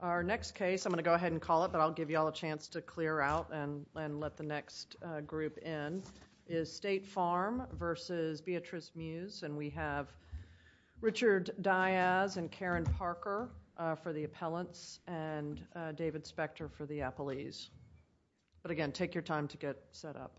Our next case, I'm going to go ahead and call it, but I'll give you all a chance to clear out and let the next group in, is State Farm v. Beatriz Muse, and we have Richard Diaz and Karen Parker for the appellants, and David Spector for the appellees. But again, take your time to get set up.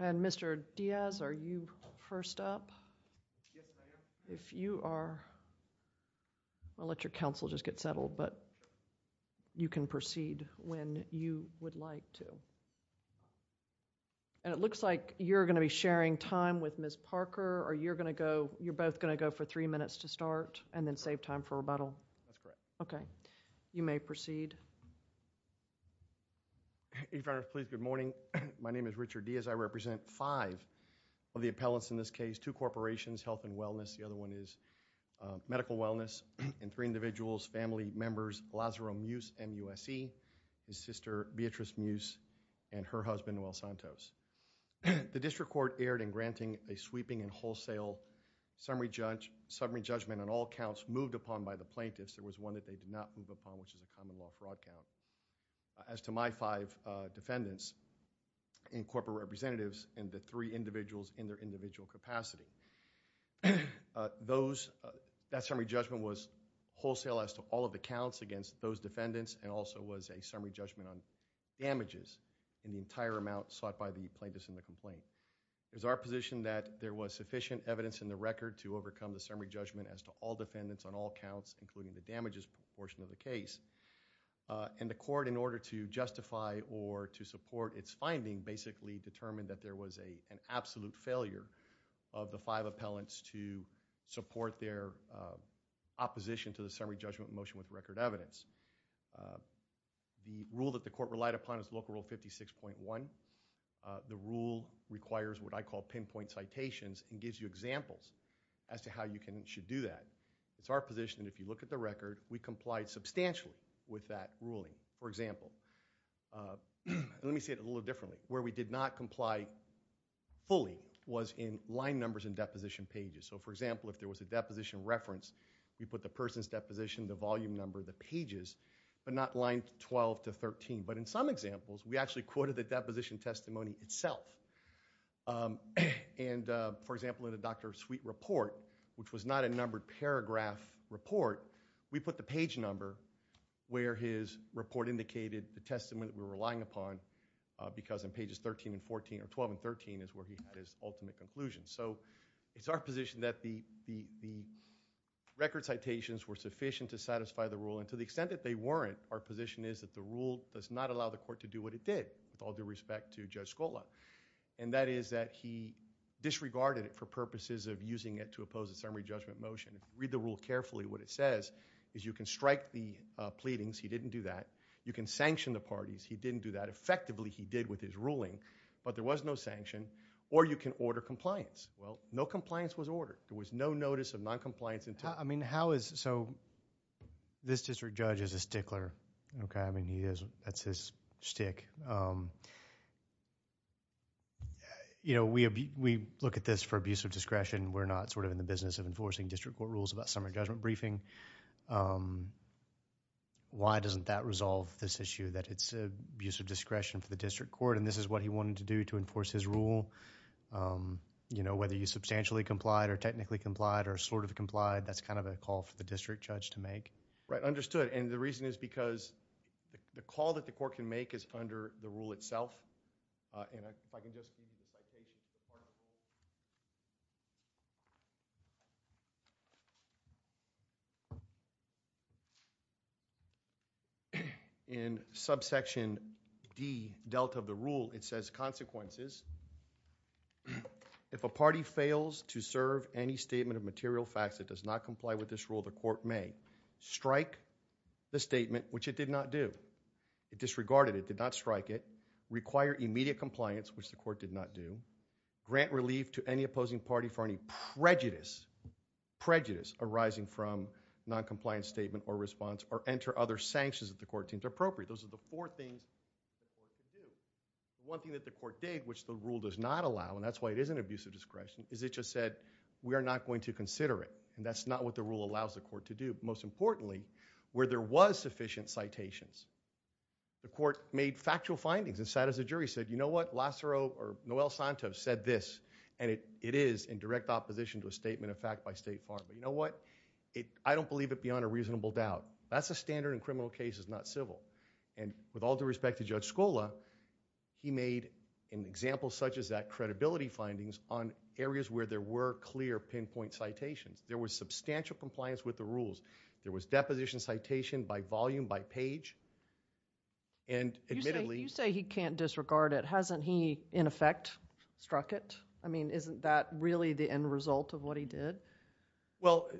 And Mr. Diaz, are you first up? If you are, I'll let your counsel just get settled, but you can proceed when you would like to. And it looks like you're going to be sharing time with Ms. Parker, or you're going to go, you're both going to go for three minutes to start, and then save time for rebuttal? That's correct. Okay. You may proceed. If I may please, good morning. My name is Richard Diaz. I represent five of the appellants in this case, two corporations, health and wellness, the other one is medical wellness, and three individuals, family members, Lazaro Muse, MUSE, his sister, Beatriz Muse, and her husband, Will Santos. The district court erred in granting a sweeping and wholesale summary judgment on all counts moved upon by the plaintiffs. There was one that they did not move upon, which is a common law fraud count. As to my five defendants and corporate representatives and the three individuals in their individual capacity, that summary judgment was wholesale as to all of the counts against those defendants, and also was a summary judgment on damages in the entire amount sought by the plaintiffs in the complaint. It was our position that there was sufficient evidence in the record to overcome the summary judgment as to all defendants on all counts, including the damages portion of the case. And the court, in order to justify or to support its finding, basically determined that there was an absolute failure of the five appellants to support their opposition to the summary judgment motion with record evidence. The rule that the court relied upon is Local Rule 56.1. The rule requires what I call pinpoint citations and gives you examples as to how you should do that. It's our position that if you look at the record, we complied substantially with that ruling. For example, let me say it a little differently. Where we did not comply fully was in line numbers and deposition pages. So, for example, if there was a deposition reference, we put the person's deposition, the volume number, the pages, but not line 12 to 13. But in some examples, we actually quoted the deposition testimony itself. And, for example, in the Dr. Sweet report, which was not a numbered paragraph report, we put the page number where his report indicated the testimony that we were relying upon because in pages 13 and 14 or 12 and 13 is where he had his ultimate conclusion. So it's our position that the record citations were sufficient to satisfy the rule. And to the extent that they weren't, our position is that the rule does not allow the court to do what it did with all due respect to Judge Scola. And that is that he disregarded it for purposes of using it to oppose the summary judgment motion. Read the rule carefully. What it says is you can strike the pleadings. He didn't do that. You can sanction the parties. He didn't do that. But there was no sanction. Or you can order compliance. Well, no compliance was ordered. There was no notice of noncompliance until— I mean, how is—so this district judge is a stickler. Okay? I mean, he is—that's his stick. You know, we look at this for abuse of discretion. We're not sort of in the business of enforcing district court rules about summary judgment briefing. Why doesn't that resolve this issue that it's abuse of discretion for the district court, and this is what he wanted to do to enforce his rule? You know, whether you substantially complied or technically complied or sort of complied, that's kind of a call for the district judge to make. Right. Understood. And the reason is because the call that the court can make is under the rule itself. And if I can just— In subsection D, delta of the rule, it says consequences. If a party fails to serve any statement of material facts that does not comply with this rule, the court may strike the statement, which it did not do. It disregarded it, did not strike it. Require immediate compliance, which the court did not do. Grant relief to any opposing party for any prejudice arising from noncompliance statement or response or enter other sanctions that the court deemed appropriate. Those are the four things the court can do. One thing that the court did, which the rule does not allow, and that's why it is an abuse of discretion, is it just said, we are not going to consider it, and that's not what the rule allows the court to do. Most importantly, where there was sufficient citations, the court made factual findings and sat as a jury and said, you know what, Lacero or Noel Santos said this, and it is in direct opposition to a statement of fact by State Farm. But you know what? I don't believe it beyond a reasonable doubt. That's a standard in criminal cases, not civil. And with all due respect to Judge Scola, he made an example such as that credibility findings on areas where there were clear pinpoint citations. There was substantial compliance with the rules. There was deposition citation by volume, by page, and admittedly- You say he can't disregard it. Hasn't he, in effect, struck it? I mean, isn't that really the end result of what he did? Well,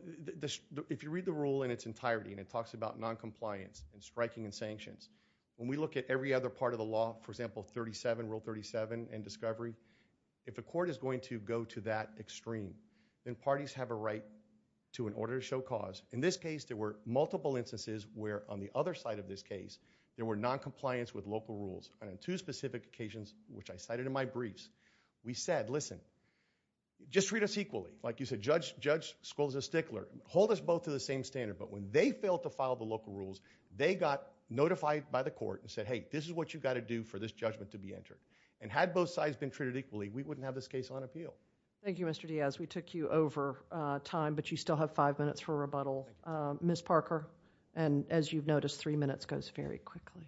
if you read the rule in its entirety, and it talks about noncompliance and striking and sanctions, when we look at every other part of the law, for example, 37, Rule 37, and discovery, if a court is going to go to that extreme, then parties have a right to, in order to show cause, in this case, there were multiple instances where, on the other side of this case, there were noncompliance with local rules. And on two specific occasions, which I cited in my briefs, we said, listen, just treat us equally. Like you said, Judge Scola is a stickler. Hold us both to the same standard. But when they failed to file the local rules, they got notified by the court and said, hey, this is what you've got to do for this judgment to be entered. And had both sides been treated equally, we wouldn't have this case on appeal. Thank you, Mr. Diaz. We took you over time, but you still have five minutes for rebuttal. Ms. Parker. And as you've noticed, three minutes goes very quickly.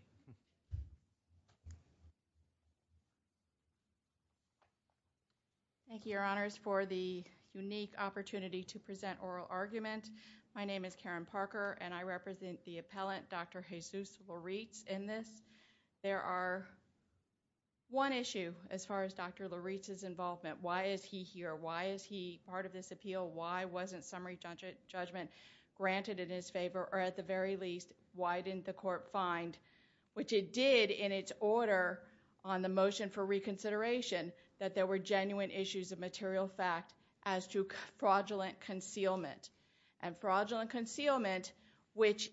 Thank you, Your Honors, for the unique opportunity to present oral argument. My name is Karen Parker, and I represent the appellant, Dr. Jesus Lauritz, in this. There are one issue, as far as Dr. Lauritz's involvement. Why is he here? Why is he part of this appeal? Why wasn't summary judgment granted in his favor? Or at the very least, why didn't the court find, which it did in its order on the motion for reconsideration, that there were genuine issues of material fact as to fraudulent concealment? And fraudulent concealment, which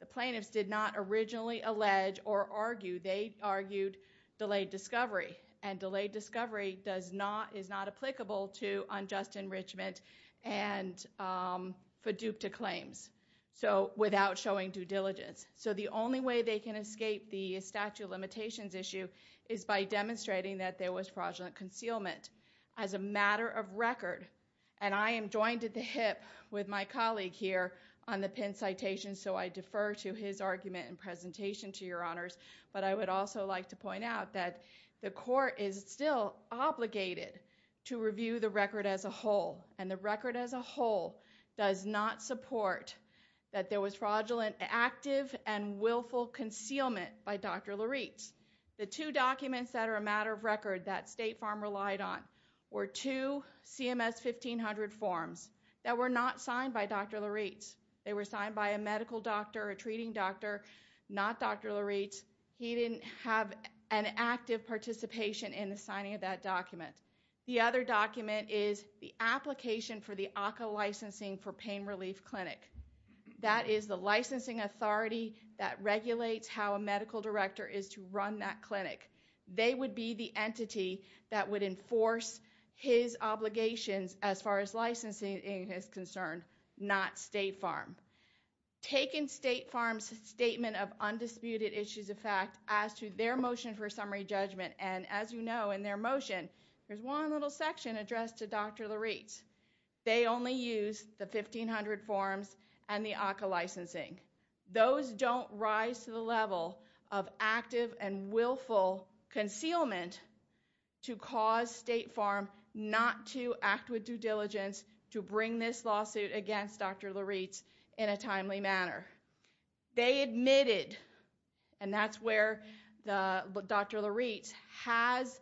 the plaintiffs did not originally allege or argue, they argued delayed discovery. And delayed discovery is not applicable to unjust enrichment and for dupe to claims without showing due diligence. So the only way they can escape the statute of limitations issue is by demonstrating that there was fraudulent concealment. As a matter of record, and I am joined at the hip with my colleague here on the pinned citation, so I defer to his argument and presentation, to Your Honors. But I would also like to point out that the court is still obligated to review the record as a whole. And the record as a whole does not support that there was fraudulent active and willful concealment by Dr. Lauritz. The two documents that are a matter of record that State Farm relied on were two CMS 1500 forms that were not signed by Dr. Lauritz. They were signed by a medical doctor, a treating doctor, not Dr. Lauritz. He didn't have an active participation in the signing of that document. The other document is the application for the ACCA licensing for pain relief clinic. That is the licensing authority that regulates how a medical director is to run that clinic. They would be the entity that would enforce his obligations as far as licensing is concerned, not State Farm. Taking State Farm's statement of undisputed issues of fact as to their motion for summary judgment, and as you know in their motion, there's one little section addressed to Dr. Lauritz. They only used the 1500 forms and the ACCA licensing. Those don't rise to the level of active and willful concealment to cause State Farm not to act with due diligence to bring this lawsuit against Dr. Lauritz in a timely manner. They admitted, and that's where Dr. Lauritz has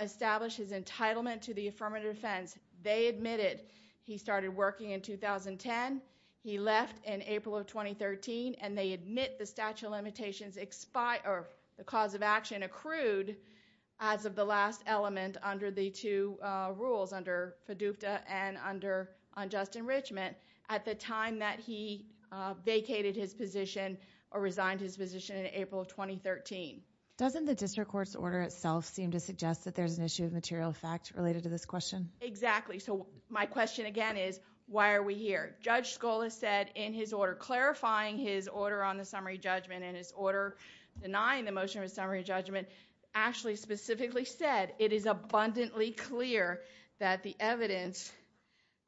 established his entitlement to the affirmative defense. They admitted he started working in 2010. He left in April of 2013, and they admit the statute of limitations expired or the cause of action accrued as of the last element under the two rules, under FDUPTA and under unjust enrichment at the time that he vacated his position or resigned his position in April of 2013. Doesn't the district court's order itself seem to suggest that there's an issue of material fact related to this question? Exactly. My question again is, why are we here? Judge Scola said in his order, clarifying his order on the summary judgment and his order denying the motion of a summary judgment, actually specifically said it is abundantly clear that the evidence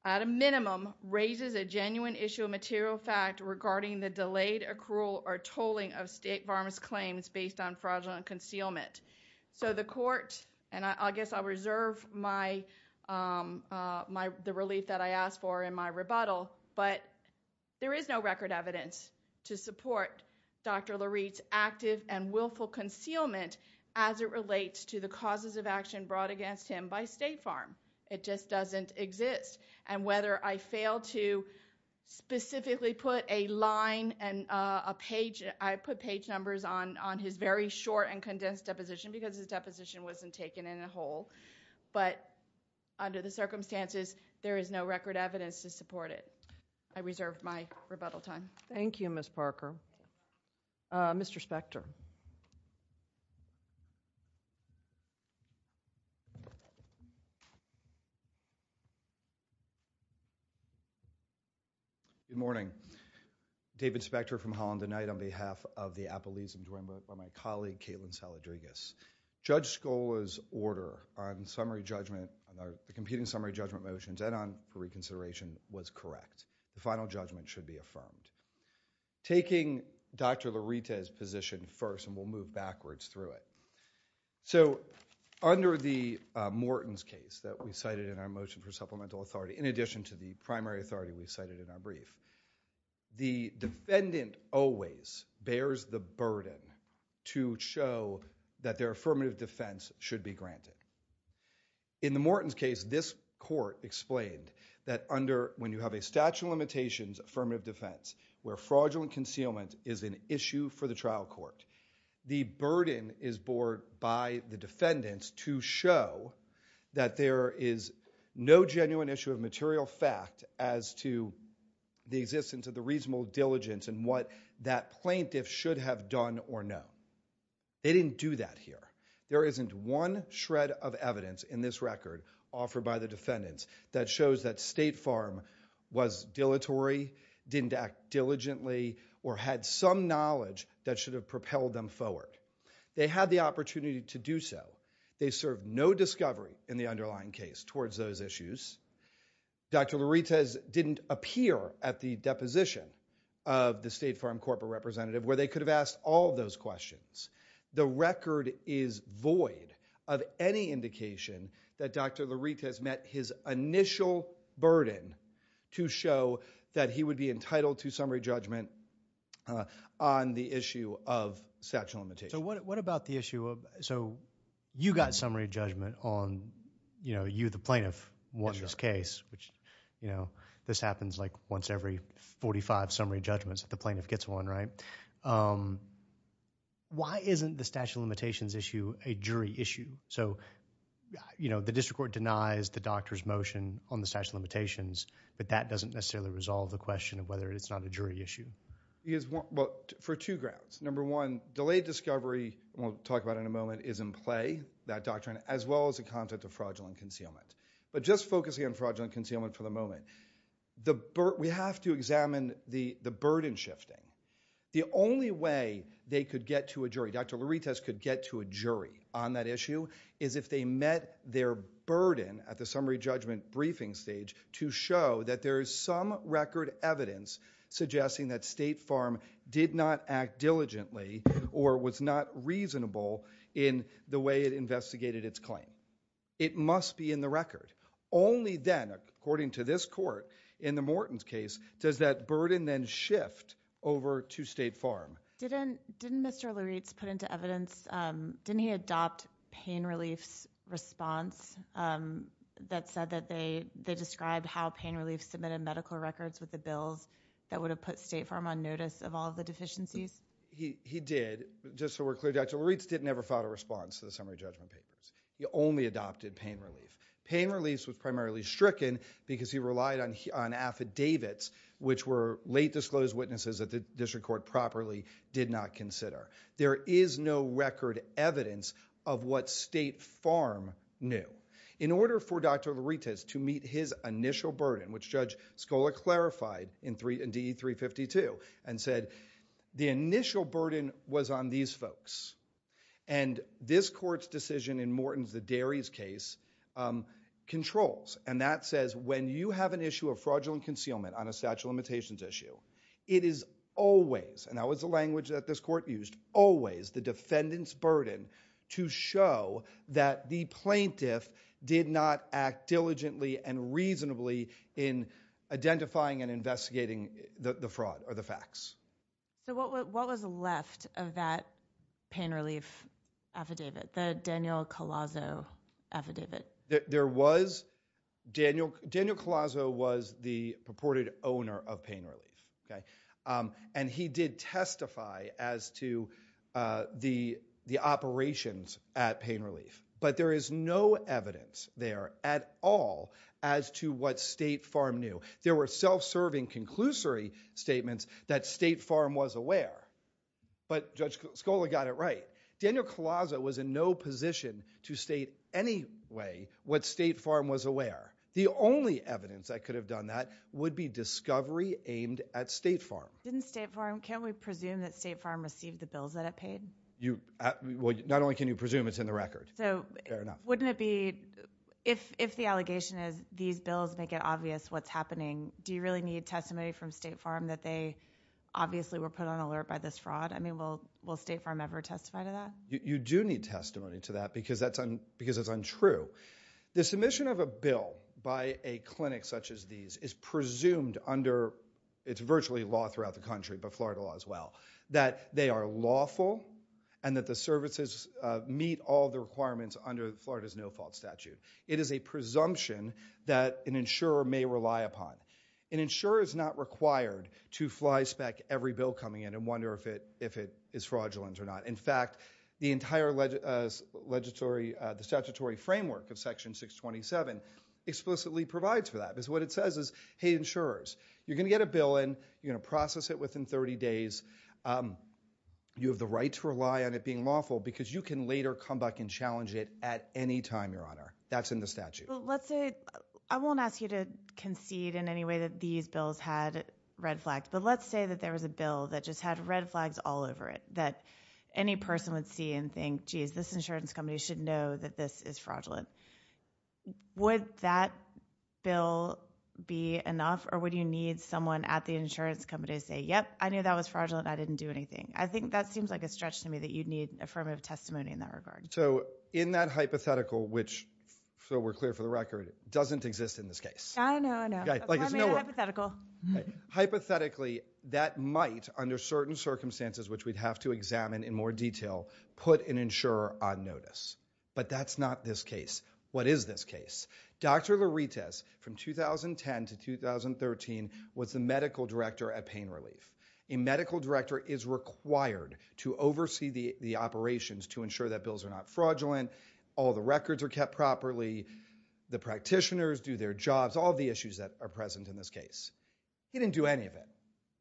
at a minimum raises a genuine issue of material fact regarding the delayed accrual or tolling of State Farm's claims based on fraudulent concealment. So the court, and I guess I'll reserve the relief that I asked for in my rebuttal, but there is no record evidence to support Dr. Lareed's active and willful concealment as it relates to the causes of action brought against him by State Farm. It just doesn't exist. And whether I fail to specifically put a line and a page, I put page numbers on his very short and condensed deposition because his deposition wasn't taken in a whole. But under the circumstances, there is no record evidence to support it. I reserve my rebuttal time. Thank you, Ms. Parker. Mr. Spector. Good morning. David Spector from Holland and Knight on behalf of the Appalachians joined by my colleague, Caitlin Saladrigas. Judge Scola's order on the competing summary judgment motions and on pre-consideration was correct. The final judgment should be affirmed. Taking Dr. Lareeda's position first, and we'll move backwards through it. So under the Morton's case that we cited in our motion for supplemental authority, in addition to the primary authority we cited in our brief, the defendant always bears the burden to show that their affirmative defense should be granted. In the Morton's case, this court explained that under when you have a statute of limitations affirmative defense where fraudulent concealment is an issue for the trial court, the burden is borne by the defendants to show that there is no genuine issue of material fact as to the existence of the reasonable diligence and what that plaintiff should have done or not. They didn't do that here. There isn't one shred of evidence in this record offered by the defendants that shows that State Farm was dilatory, didn't act diligently, or had some knowledge that should have propelled them forward. They had the opportunity to do so. They served no discovery in the underlying case towards those issues. Dr. Lareeda didn't appear at the deposition of the State Farm corporate representative where they could have asked all of those questions. The record is void of any indication that Dr. Lareeda has met his initial burden to show that he would be entitled to summary judgment on the issue of statute of limitations. So what about the issue of, so you got summary judgment on, you know, you the plaintiff won this case, which, you know, this happens like once every 45 summary judgments that the plaintiff gets one, right? Why isn't the statute of limitations issue a jury issue? So, you know, the district court denies the doctor's motion on the statute of limitations, but that doesn't necessarily resolve the question of whether it's not a jury issue. Well, for two grounds. Number one, delayed discovery, we'll talk about it in a moment, is in play, that doctrine, as well as the content of fraudulent concealment. But just focusing on fraudulent concealment for the moment, we have to examine the burden shifting. The only way they could get to a jury, Dr. Lareeda could get to a jury on that issue, is if they met their burden at the summary judgment briefing stage to show that there is some record evidence suggesting that State Farm did not act diligently or was not reasonable in the way it investigated its claim. It must be in the record. Only then, according to this court, in the Morton's case, does that burden then shift over to State Farm. Didn't Mr. Lareeda put into evidence, didn't he adopt pain relief's response that said that they described how pain relief submitted medical records with the bills that would have put State Farm on notice of all the deficiencies? He did, just so we're clear, Dr. Lareeda didn't ever file a response to the summary judgment papers. He only adopted pain relief. Pain relief was primarily stricken because he relied on affidavits, which were late disclosed witnesses that the district court properly did not consider. There is no record evidence of what State Farm knew. In order for Dr. Lareeda to meet his initial burden, which Judge Scola clarified in DE 352, and said the initial burden was on these folks. This court's decision in Morton's, the Darry's case, controls. That says when you have an issue of fraudulent concealment on a statute of limitations issue, it is always, and that was the language that this court used, always the defendant's burden to show that the plaintiff did not act diligently and reasonably in identifying and investigating the fraud or the facts. So what was left of that pain relief affidavit, the Daniel Colazzo affidavit? There was, Daniel Colazzo was the purported owner of pain relief. And he did testify as to the operations at pain relief. But there is no evidence there at all as to what State Farm knew. There were self-serving conclusory statements that State Farm was aware. But Judge Scola got it right. Daniel Colazzo was in no position to state any way what State Farm was aware. The only evidence that could have done that would be discovery aimed at State Farm. Didn't State Farm, can't we presume that State Farm received the bills that it paid? Not only can you presume, it's in the record. So wouldn't it be, if the allegation is these bills make it obvious what's happening, do you really need testimony from State Farm that they obviously were put on alert by this fraud? I mean, will State Farm ever testify to that? You do need testimony to that because it's untrue. The submission of a bill by a clinic such as these is presumed under, it's virtually law throughout the country, but Florida law as well, that they are lawful and that the services meet all the requirements under Florida's no-fault statute. It is a presumption that an insurer may rely upon. An insurer is not required to fly spec every bill coming in and wonder if it is fraudulent or not. In fact, the entire statutory framework of Section 627 explicitly provides for that. Because what it says is, hey, insurers, you're going to get a bill in, you're going to process it within 30 days, you have the right to rely on it being lawful because you can later come back and challenge it at any time, Your Honor. That's in the statute. Well, let's say, I won't ask you to concede in any way that these bills had red flags, but let's say that there was a bill that just had red flags all over it, that any person would see and think, geez, this insurance company should know that this is fraudulent. Would that bill be enough or would you need someone at the insurance company to say, yep, I knew that was fraudulent, I didn't do anything? I think that seems like a stretch to me that you'd need affirmative testimony in that regard. So in that hypothetical, which, so we're clear for the record, doesn't exist in this case. I know, I know. I made a hypothetical. Hypothetically, that might, under certain circumstances, which we'd have to examine in more detail, put an insurer on notice. But that's not this case. What is this case? Dr. Louritas, from 2010 to 2013, was the medical director at Pain Relief. A medical director is required to oversee the operations to ensure that bills are not fraudulent, all the records are kept properly, the practitioners do their jobs, all the issues that are present in this case. He didn't do any of it,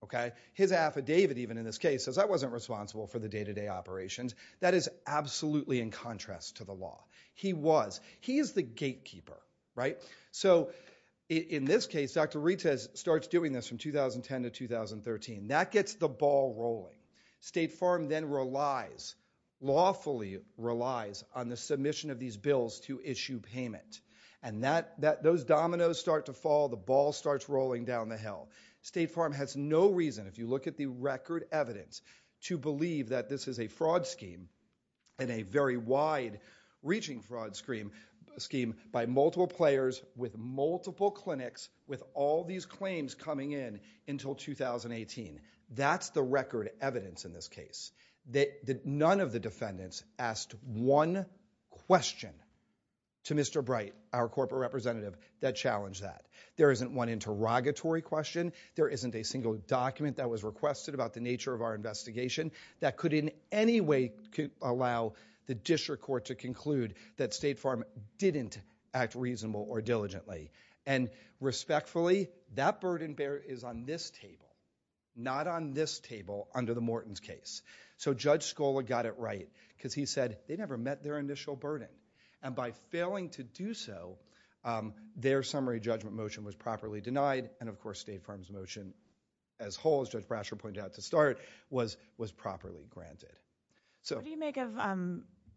okay? His affidavit even in this case says I wasn't responsible for the day-to-day operations. That is absolutely in contrast to the law. He was. He is the gatekeeper, right? So in this case, Dr. Louritas starts doing this from 2010 to 2013. That gets the ball rolling. State Farm then relies, lawfully relies, on the submission of these bills to issue payment. And those dominoes start to fall, the ball starts rolling down the hill. State Farm has no reason, if you look at the record evidence, to believe that this is a fraud scheme and a very wide-reaching fraud scheme by multiple players with multiple clinics with all these claims coming in until 2018. That's the record evidence in this case. None of the defendants asked one question to Mr. Bright, our corporate representative, that challenged that. There isn't one interrogatory question. There isn't a single document that was requested about the nature of our investigation that could in any way allow the district court to conclude that State Farm didn't act reasonably or diligently. And respectfully, that burden bearer is on this table, not on this table under the Morton's case. So Judge Scola got it right because he said they never met their initial burden. And by failing to do so, their summary judgment motion was properly denied, and of course State Farm's motion as whole, as Judge Brasher pointed out to start, was properly granted. What do you make of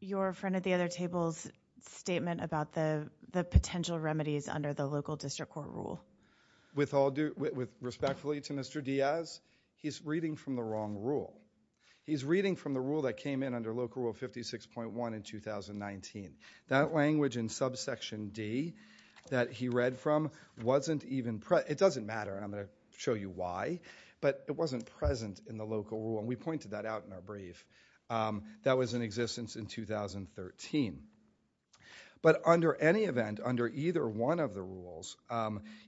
your friend at the other table's statement about the potential remedies under the local district court rule? With all due respect to Mr. Diaz, he's reading from the wrong rule. He's reading from the rule that came in under Local Rule 56.1 in 2019. That language in subsection D that he read from wasn't even present. It doesn't matter. I'm going to show you why. But it wasn't present in the local rule, and we pointed that out in our brief. That was in existence in 2013. But under any event, under either one of the rules,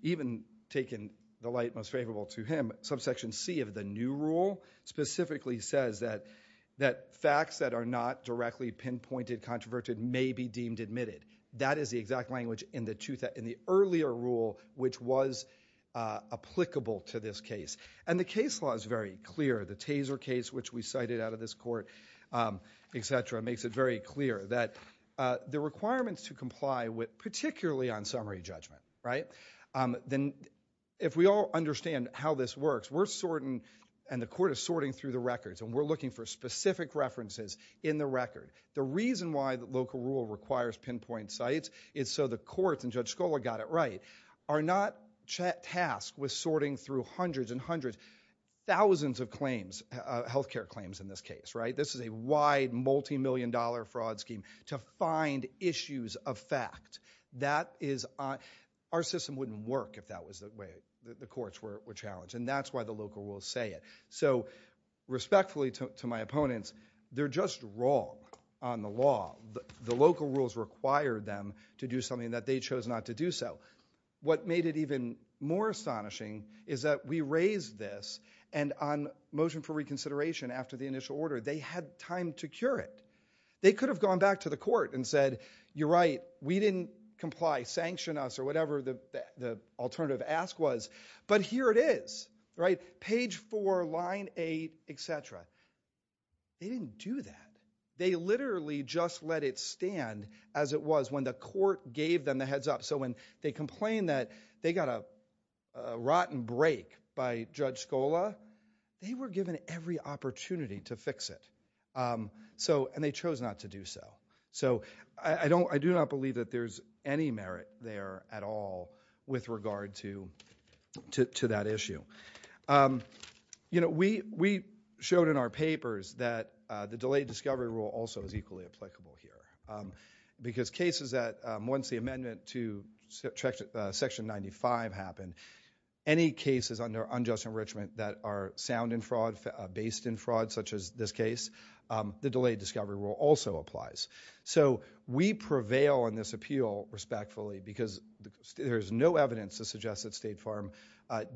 even taking the light most favorable to him, subsection C of the new rule specifically says that facts that are not directly pinpointed, controverted, may be deemed admitted. That is the exact language in the earlier rule which was applicable to this case. And the case law is very clear. The Taser case, which we cited out of this court, etc., makes it very clear that the requirements to comply with, and the court is sorting through the records, and we're looking for specific references in the record. The reason why the local rule requires pinpoint sites is so the courts, and Judge Scholar got it right, are not tasked with sorting through hundreds and hundreds, thousands of claims, health care claims in this case. This is a wide, multimillion-dollar fraud scheme to find issues of fact. Our system wouldn't work if that was the way the courts were challenged, and that's why the local rules say it. So respectfully to my opponents, they're just wrong on the law. The local rules require them to do something that they chose not to do so. What made it even more astonishing is that we raised this, and on motion for reconsideration after the initial order, they had time to cure it. They could have gone back to the court and said, you're right, we didn't comply. Sanction us or whatever the alternative ask was, but here it is, right? Page four, line eight, etc. They didn't do that. They literally just let it stand as it was when the court gave them the heads up. So when they complained that they got a rotten break by Judge Scholar, they were given every opportunity to fix it. And they chose not to do so. So I do not believe that there's any merit there at all with regard to that issue. We showed in our papers that the delayed discovery rule also is equally applicable here. Because cases that, once the amendment to Section 95 happened, any cases under unjust enrichment that are sound in fraud, based in fraud such as this case, the delayed discovery rule also applies. So we prevail on this appeal respectfully because there's no evidence to suggest that State Farm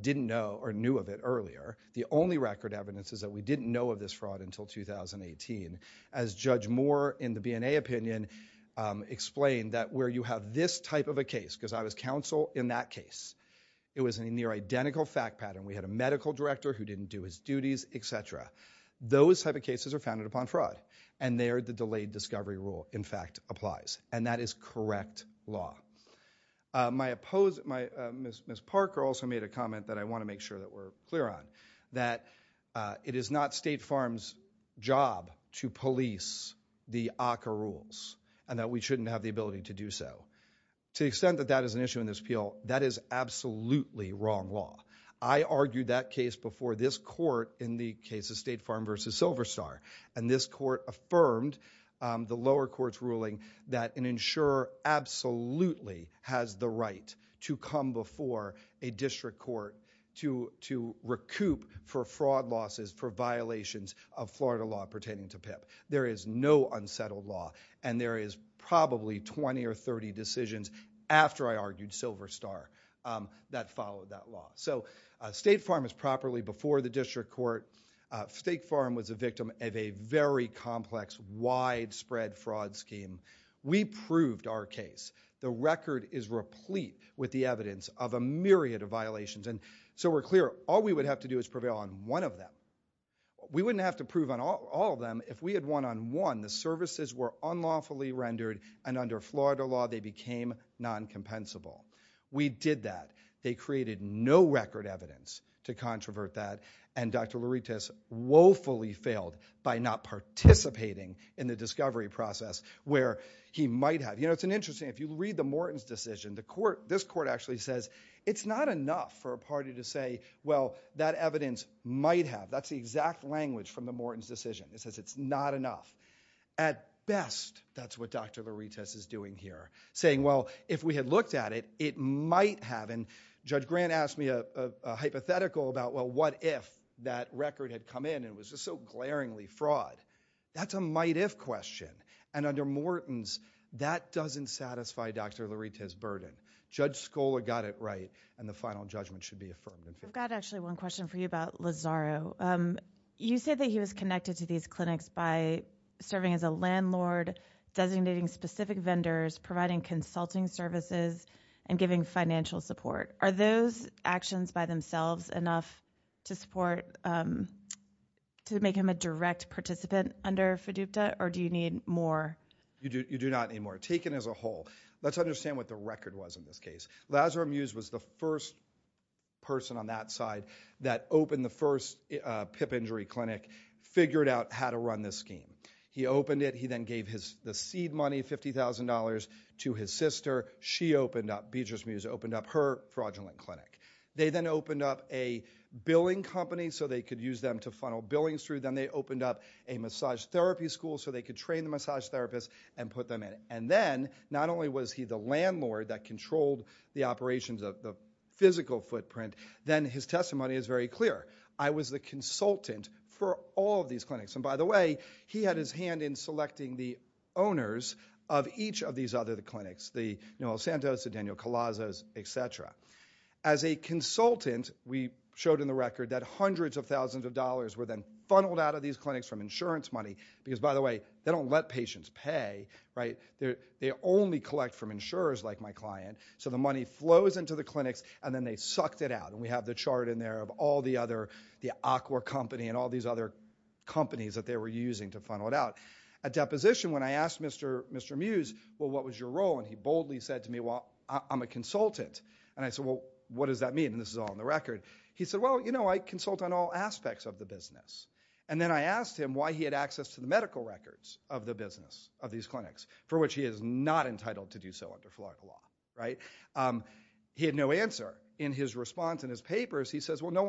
didn't know or knew of it earlier. The only record evidence is that we didn't know of this fraud until 2018. As Judge Moore in the BNA opinion explained, that where you have this type of a case, because I was counsel in that case, it was a near-identical fact pattern. We had a medical director who didn't do his duties, etc. Those type of cases are founded upon fraud. And there the delayed discovery rule, in fact, applies. And that is correct law. Ms. Parker also made a comment that I want to make sure that we're clear on, that it is not State Farm's job to police the ACCA rules and that we shouldn't have the ability to do so. To the extent that that is an issue in this appeal, that is absolutely wrong law. I argued that case before this court in the case of State Farm v. Silver Star. And this court affirmed the lower court's ruling that an insurer absolutely has the right to come before a district court to recoup for fraud losses for violations of Florida law pertaining to PIP. There is no unsettled law. And there is probably 20 or 30 decisions after I argued Silver Star that followed that law. So State Farm is properly before the district court. State Farm was a victim of a very complex widespread fraud scheme. We proved our case. The record is replete with the evidence of a myriad of violations. And so we're clear. All we would have to do is prevail on one of them. We wouldn't have to prove on all of them if we had won on one. The services were unlawfully rendered. And under Florida law, they became non-compensable. We did that. They created no record evidence to controvert that. And Dr. Louritas woefully failed by not participating in the discovery process where he might have. You know, it's interesting. If you read the Morton's decision, this court actually says it's not enough for a party to say, well, that evidence might have. That's the exact language from the Morton's decision. It says it's not enough. At best, that's what Dr. Louritas is doing here, saying, well, if we had looked at it, it might have. And Judge Grant asked me a hypothetical about, well, what if that record had come in and was just so glaringly fraud. That's a might-if question. And under Morton's, that doesn't satisfy Dr. Louritas' burden. Judge Scola got it right, and the final judgment should be affirmed. I've got actually one question for you about Lazaro. You said that he was connected to these clinics by serving as a landlord, designating specific vendors, providing consulting services, and giving financial support. Are those actions by themselves enough to support to make him a direct participant under FDUPTA, or do you need more? You do not need more. Take it as a whole. Let's understand what the record was in this case. Lazaro Mews was the first person on that side that opened the first PIP injury clinic, figured out how to run this scheme. He opened it. He then gave the seed money, $50,000, to his sister. She opened up, Beatrice Mews opened up her fraudulent clinic. They then opened up a billing company so they could use them to funnel billings through. Then they opened up a massage therapy school so they could train the massage therapists and put them in. Then, not only was he the landlord that controlled the operations of the physical footprint, then his testimony is very clear. I was the consultant for all of these clinics. By the way, he had his hand in selecting the owners of each of these other clinics, the Noel Santos, the Daniel Calazas, et cetera. As a consultant, we showed in the record that hundreds of thousands of dollars were then funneled out of these clinics from insurance money. By the way, they don't let patients pay. They only collect from insurers like my client. So the money flows into the clinics, and then they sucked it out. We have the chart in there of all the other, the Aqua Company and all these other companies that they were using to funnel it out. At deposition, when I asked Mr. Mews, well, what was your role? He boldly said to me, well, I'm a consultant. I said, well, what does that mean? This is all in the record. He said, well, you know, I consult on all aspects of the business. And then I asked him why he had access to the medical records of the business of these clinics, for which he is not entitled to do so under philosophical law. He had no answer. In his response in his papers, he says, well, no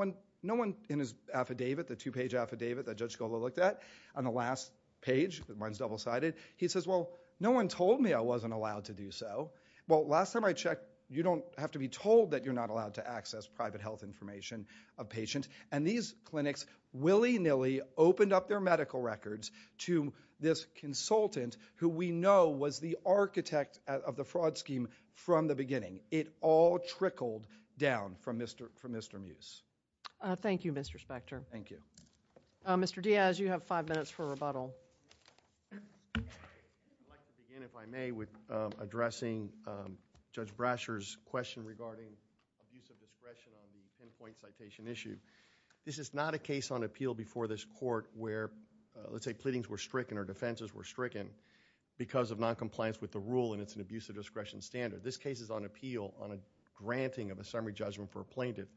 one in his affidavit, the two-page affidavit that Judge Scola looked at on the last page, mine's double-sided, he says, well, no one told me I wasn't allowed to do so. Well, last time I checked, you don't have to be told that you're not allowed to access private health information of patients. And these clinics willy-nilly opened up their medical records to this consultant who we know was the architect of the fraud scheme from the beginning. It all trickled down from Mr. Mews. Thank you, Mr. Spector. Thank you. Mr. Diaz, you have five minutes for rebuttal. I'd like to begin, if I may, with addressing Judge Brasher's question regarding abuse of discretion on the pinpoint citation issue. This is not a case on appeal before this court where, let's say, pleadings were stricken or defenses were stricken because of noncompliance with the rule, and it's an abuse of discretion standard. This case is on appeal on a granting of a summary judgment for a plaintiff.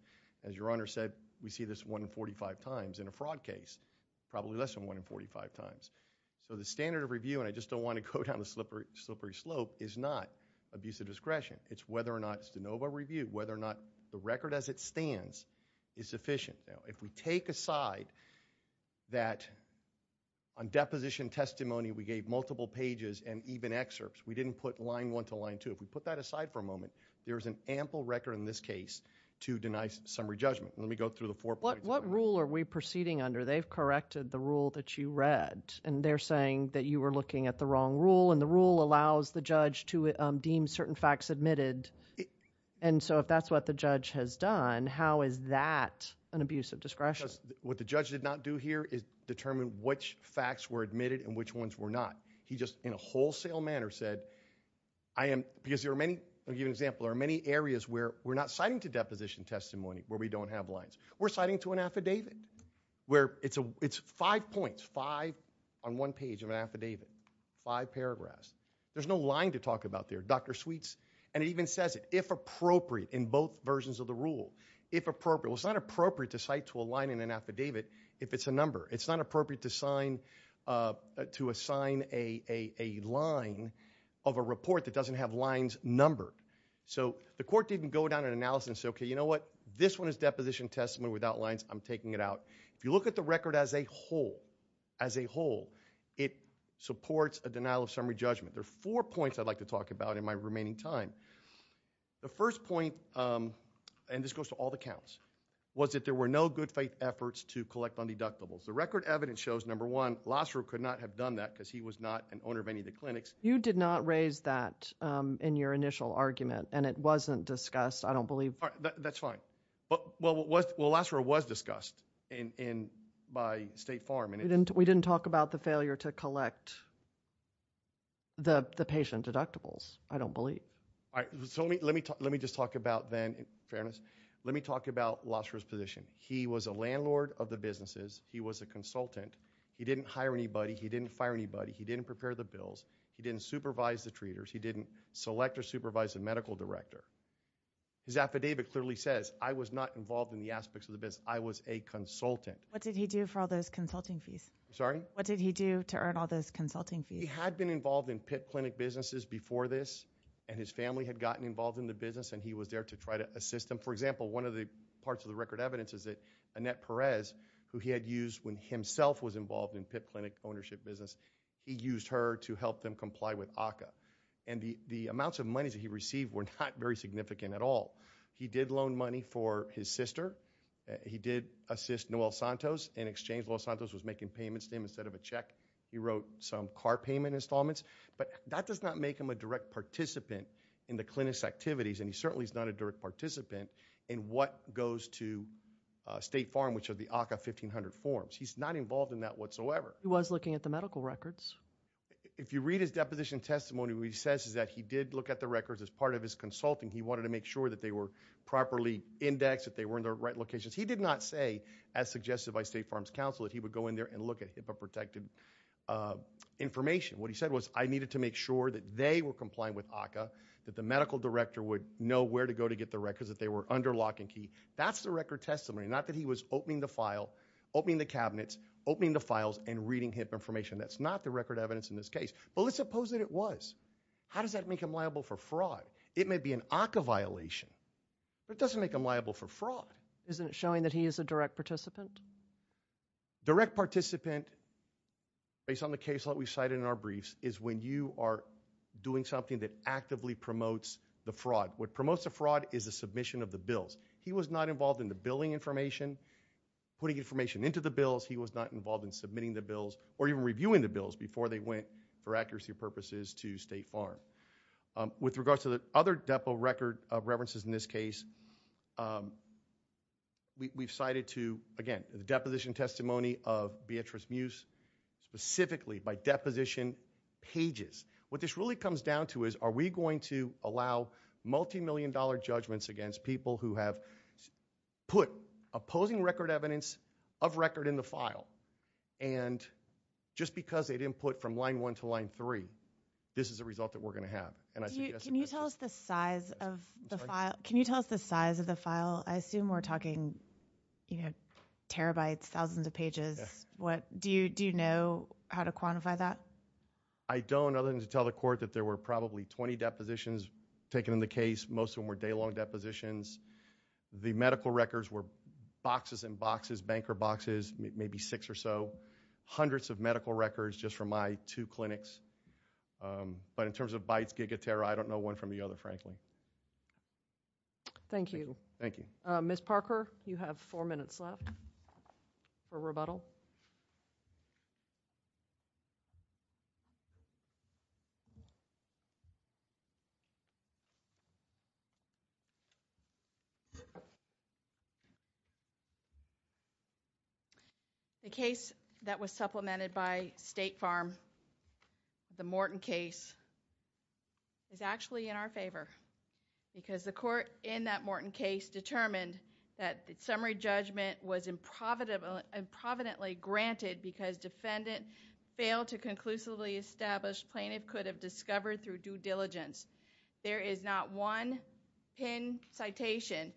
As Your Honor said, we see this 1 in 45 times in a fraud case, probably less than 1 in 45 times. So the standard of review, and I just don't want to go down a slippery slope, is not abuse of discretion. It's whether or not it's de novo review, whether or not the record as it stands is sufficient. Now, if we take aside that on deposition testimony we gave multiple pages and even excerpts, we didn't put line one to line two. If we put that aside for a moment, there is an ample record in this case to deny summary judgment. Let me go through the four points. What rule are we proceeding under? They've corrected the rule that you read, and they're saying that you were looking at the wrong rule, and the rule allows the judge to deem certain facts admitted. And so if that's what the judge has done, how is that an abuse of discretion? What the judge did not do here is determine which facts were admitted and which ones were not. He just, in a wholesale manner, said I am – because there are many – I'll give you an example. There are many areas where we're not citing to deposition testimony where we don't have lines. We're citing to an affidavit where it's five points, five on one page of an affidavit, five paragraphs. There's no line to talk about there, Dr. Sweets. And it even says it, if appropriate, in both versions of the rule, if appropriate. Well, it's not appropriate to cite to a line in an affidavit if it's a number. It's not appropriate to assign a line of a report that doesn't have lines numbered. So the court didn't go down and analyze and say, okay, you know what? This one is deposition testimony without lines. I'm taking it out. If you look at the record as a whole, as a whole, it supports a denial of summary judgment. There are four points I'd like to talk about in my remaining time. The first point, and this goes to all the counts, was that there were no good faith efforts to collect on deductibles. The record evidence shows, number one, Losser could not have done that because he was not an owner of any of the clinics. You did not raise that in your initial argument, and it wasn't discussed, I don't believe. That's fine. Well, Losser was discussed by State Farm. We didn't talk about the failure to collect the patient deductibles, I don't believe. All right. So let me just talk about then, in fairness, let me talk about Losser's position. He was a landlord of the businesses. He was a consultant. He didn't hire anybody. He didn't fire anybody. He didn't prepare the bills. He didn't supervise the treaters. He didn't select or supervise the medical director. His affidavit clearly says, I was not involved in the aspects of the business. I was a consultant. What did he do for all those consulting fees? I'm sorry? What did he do to earn all those consulting fees? He had been involved in PIP clinic businesses before this, and his family had gotten involved in the business, and he was there to try to assist them. For example, one of the parts of the record evidence is that Annette Perez, who he had used when himself was involved in PIP clinic ownership business, he used her to help them comply with ACCA. And the amounts of money that he received were not very significant at all. He did loan money for his sister. He did assist Noel Santos in exchange. Noel Santos was making payments to him instead of a check. He wrote some car payment installments. But that does not make him a direct participant in the clinic's activities, and he certainly is not a direct participant in what goes to State Farm, which are the ACCA 1500 forms. He's not involved in that whatsoever. He was looking at the medical records. If you read his deposition testimony, what he says is that he did look at the records as part of his consulting. He wanted to make sure that they were properly indexed, that they were in the right locations. He did not say, as suggested by State Farm's counsel, that he would go in there and look at HIPAA-protected information. What he said was, I needed to make sure that they were complying with ACCA, that the medical director would know where to go to get the records, that they were under lock and key. That's the record testimony, not that he was opening the file, opening the cabinets, opening the files, and reading HIPAA information. That's not the record evidence in this case. But let's suppose that it was. How does that make him liable for fraud? It may be an ACCA violation, but it doesn't make him liable for fraud. Isn't it showing that he is a direct participant? Direct participant, based on the case that we cited in our briefs, is when you are doing something that actively promotes the fraud. What promotes the fraud is the submission of the bills. He was not involved in the billing information, putting information into the bills. He was not involved in submitting the bills or even reviewing the bills before they went, for accuracy purposes, to State Farm. With regards to the other depo record of references in this case, we've cited to, again, the deposition testimony of Beatrice Muse, specifically by deposition pages. What this really comes down to is, are we going to allow multimillion-dollar judgments against people who have put opposing record evidence of record in the file, and just because they didn't put from line 1 to line 3, this is the result that we're going to have. Can you tell us the size of the file? I assume we're talking terabytes, thousands of pages. Do you know how to quantify that? I don't, other than to tell the court that there were probably 20 depositions taken in the case. Most of them were day-long depositions. The medical records were boxes and boxes, banker boxes, maybe six or so. Hundreds of medical records, just from my two clinics. But in terms of bytes, gigatera, I don't know one from the other, frankly. Thank you. Thank you. Ms. Parker, you have four minutes left for rebuttal. The case that was supplemented by State Farm, the Morton case, is actually in our favor because the court in that Morton case determined that the summary judgment was improvidently granted because defendant failed to conclusively establish plaintiff could have discovered through due diligence. There is not one pinned citation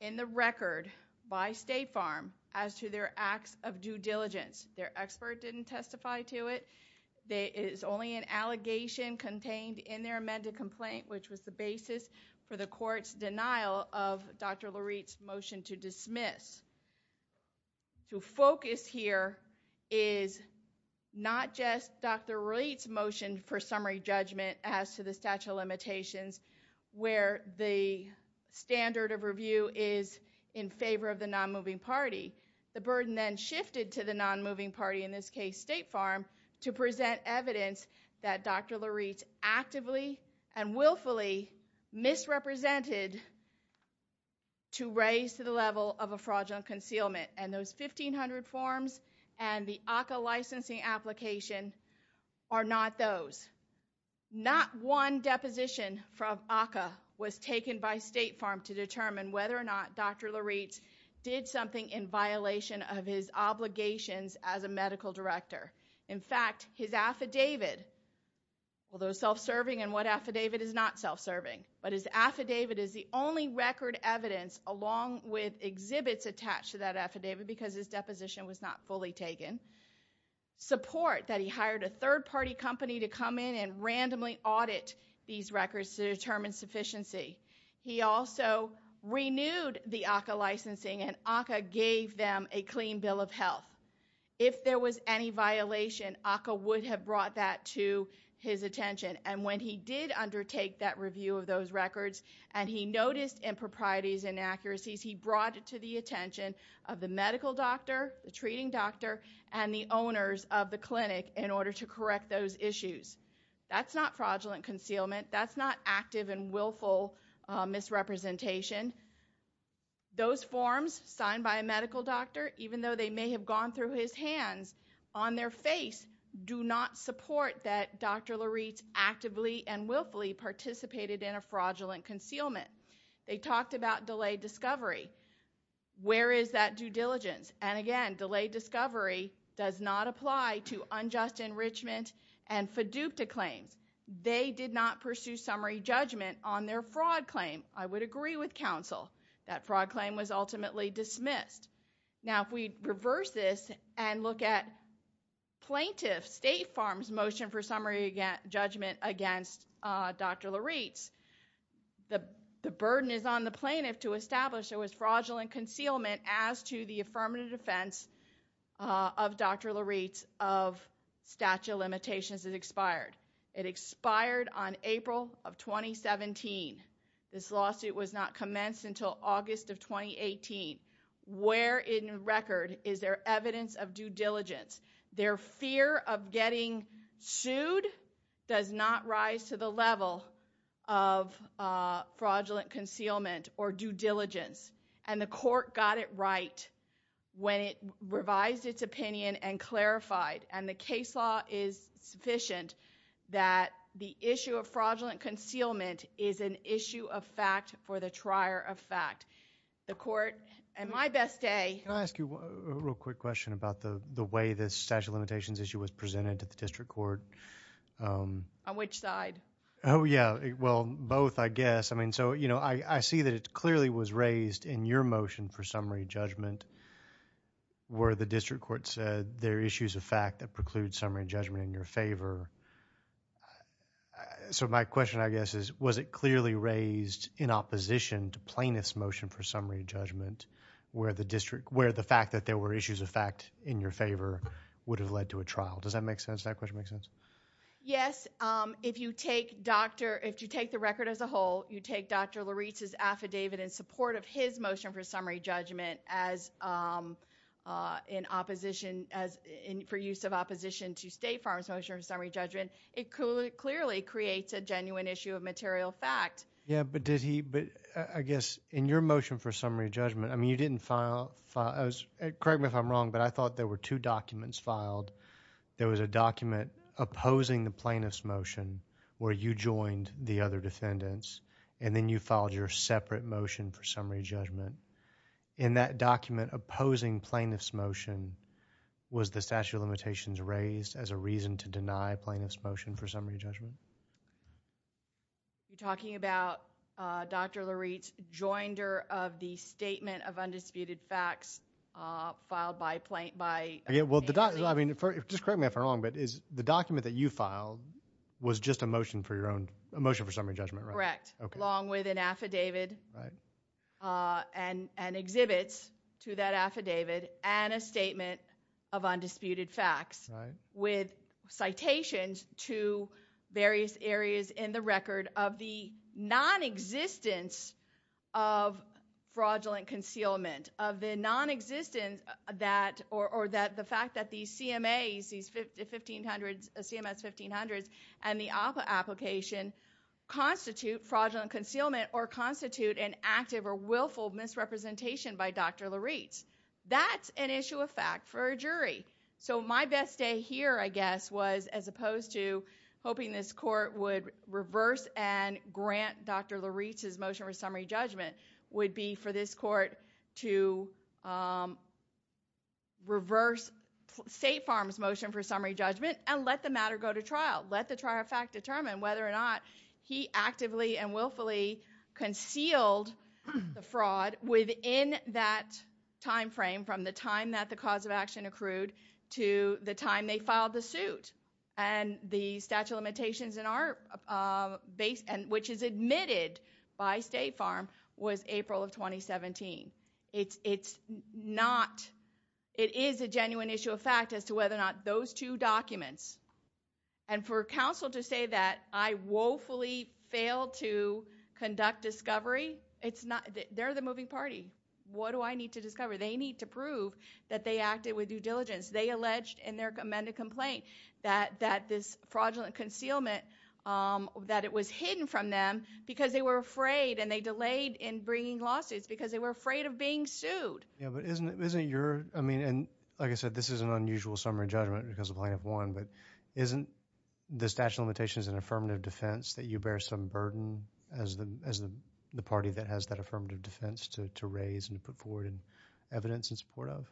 in the record by State Farm as to their acts of due diligence. Their expert didn't testify to it. It is only an allegation contained in their amended complaint, which was the basis for the court's denial of Dr. Lurie's motion to dismiss. To focus here is not just Dr. Lurie's motion for summary judgment as to the statute of limitations, where the standard of review is in favor of the non-moving party. The burden then shifted to the non-moving party, in this case State Farm, to present evidence that Dr. Lurie's actively and willfully misrepresented to raise to the level of a fraudulent concealment. And those 1500 forms and the ACCA licensing application are not those. Not one deposition from ACCA was taken by State Farm to determine whether or not Dr. Lurie's did something in violation of his obligations as a medical director. In fact, his affidavit, although self-serving and what affidavit is not self-serving, but his affidavit is the only record evidence along with exhibits attached to that affidavit because his deposition was not fully taken, support that he hired a third-party company to come in and randomly audit these records to determine sufficiency. He also renewed the ACCA licensing and ACCA gave them a clean bill of health. If there was any violation, ACCA would have brought that to his attention. And when he did undertake that review of those records and he noticed improprieties and inaccuracies, he brought it to the attention of the medical doctor, the treating doctor, and the owners of the clinic in order to correct those issues. That's not fraudulent concealment. That's not active and willful misrepresentation. Those forms signed by a medical doctor, even though they may have gone through his hands on their face, do not support that Dr. Lurie's actively and willfully participated in a fraudulent concealment. They talked about delayed discovery. Where is that due diligence? And again, delayed discovery does not apply to unjust enrichment and FDUPTA claims. They did not pursue summary judgment on their fraud claim. I would agree with counsel that fraud claim was ultimately dismissed. Now, if we reverse this and look at plaintiff State Farm's motion for summary judgment against Dr. Lurie's, the burden is on the plaintiff to establish there was fraudulent concealment as to the affirmative defense of Dr. Lurie's of statute of limitations is expired. It expired on April of 2017. This lawsuit was not commenced until August of 2018. Where in record is there evidence of due diligence? Their fear of getting sued does not rise to the level of fraudulent concealment or due diligence. And the court got it right when it revised its opinion and clarified. And the case law is sufficient that the issue of fraudulent concealment is an issue of fact for the trier of fact. The court, at my best day. Can I ask you a real quick question about the way the statute of limitations issue was presented to the district court? On which side? Oh, yeah. Well, both, I guess. I mean, so, you know, I see that it clearly was raised in your motion for summary judgment where the district court said there are issues of fact that preclude summary judgment in your favor. So my question, I guess, is was it clearly raised in opposition to plaintiff's motion for summary judgment where the fact that there were issues of fact in your favor would have led to a trial? Does that question make sense? Yes. If you take the record as a whole, you take Dr. Lurie's affidavit in support of his motion for summary judgment for use of opposition to State Farm's motion for summary judgment, it clearly creates a genuine issue of material fact. Yeah, but did he, I guess, in your motion for summary judgment, I mean, you didn't file, correct me if I'm wrong, but I thought there were two documents filed. There was a document opposing the plaintiff's motion where you joined the other defendants and then you filed your separate motion for summary judgment. In that document opposing plaintiff's motion, was the statute of limitations raised as a reason to deny plaintiff's motion for summary judgment? You're talking about Dr. Lurie's joinder of the statement of undisputed facts filed by a family? Yeah, well, I mean, just correct me if I'm wrong, but the document that you filed was just a motion for your own, a motion for summary judgment, right? Correct, along with an affidavit and exhibits to that affidavit and a statement of undisputed facts with citations to various areas in the record of the nonexistence of fraudulent concealment, of the nonexistence that, or the fact that the CMAs, the CMS 1500s and the APA application constitute fraudulent concealment or constitute an active or willful misrepresentation by Dr. Lurie. That's an issue of fact for a jury. So my best day here, I guess, was as opposed to hoping this court would reverse and grant Dr. Lurie's motion for summary judgment would be for this court to reverse State Farm's motion for summary judgment and let the matter go to trial. Let the trial of fact determine whether or not he actively and willfully concealed the fraud within that timeframe from the time that the cause of action accrued to the time they filed the suit. And the statute of limitations in our base, which is admitted by State Farm, was April of 2017. It's not, it is a genuine issue of fact as to whether or not those two documents, and for counsel to say that I woefully failed to conduct discovery, it's not, they're the moving party. What do I need to discover? They need to prove that they acted with due diligence. They alleged in their amended complaint that this fraudulent concealment, that it was hidden from them because they were afraid and they delayed in bringing lawsuits because they were afraid of being sued. Yeah, but isn't your, I mean, and like I said, this is an unusual summary judgment because the plaintiff won, but isn't the statute of limitations an affirmative defense that you bear some burden as the party that has that affirmative defense to raise and to put forward evidence in support of?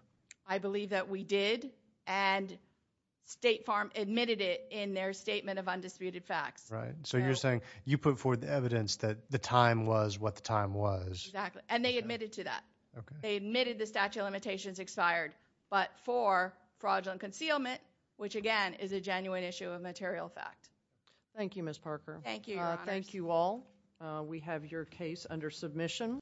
I believe that we did, and State Farm admitted it in their statement of undisputed facts. Right, so you're saying you put forward the evidence that the time was what the time was. Exactly, and they admitted to that. They admitted the statute of limitations expired, but for fraudulent concealment, which again is a genuine issue of material fact. Thank you, Ms. Parker. Thank you, Your Honors. Thank you all. We have your case under submission.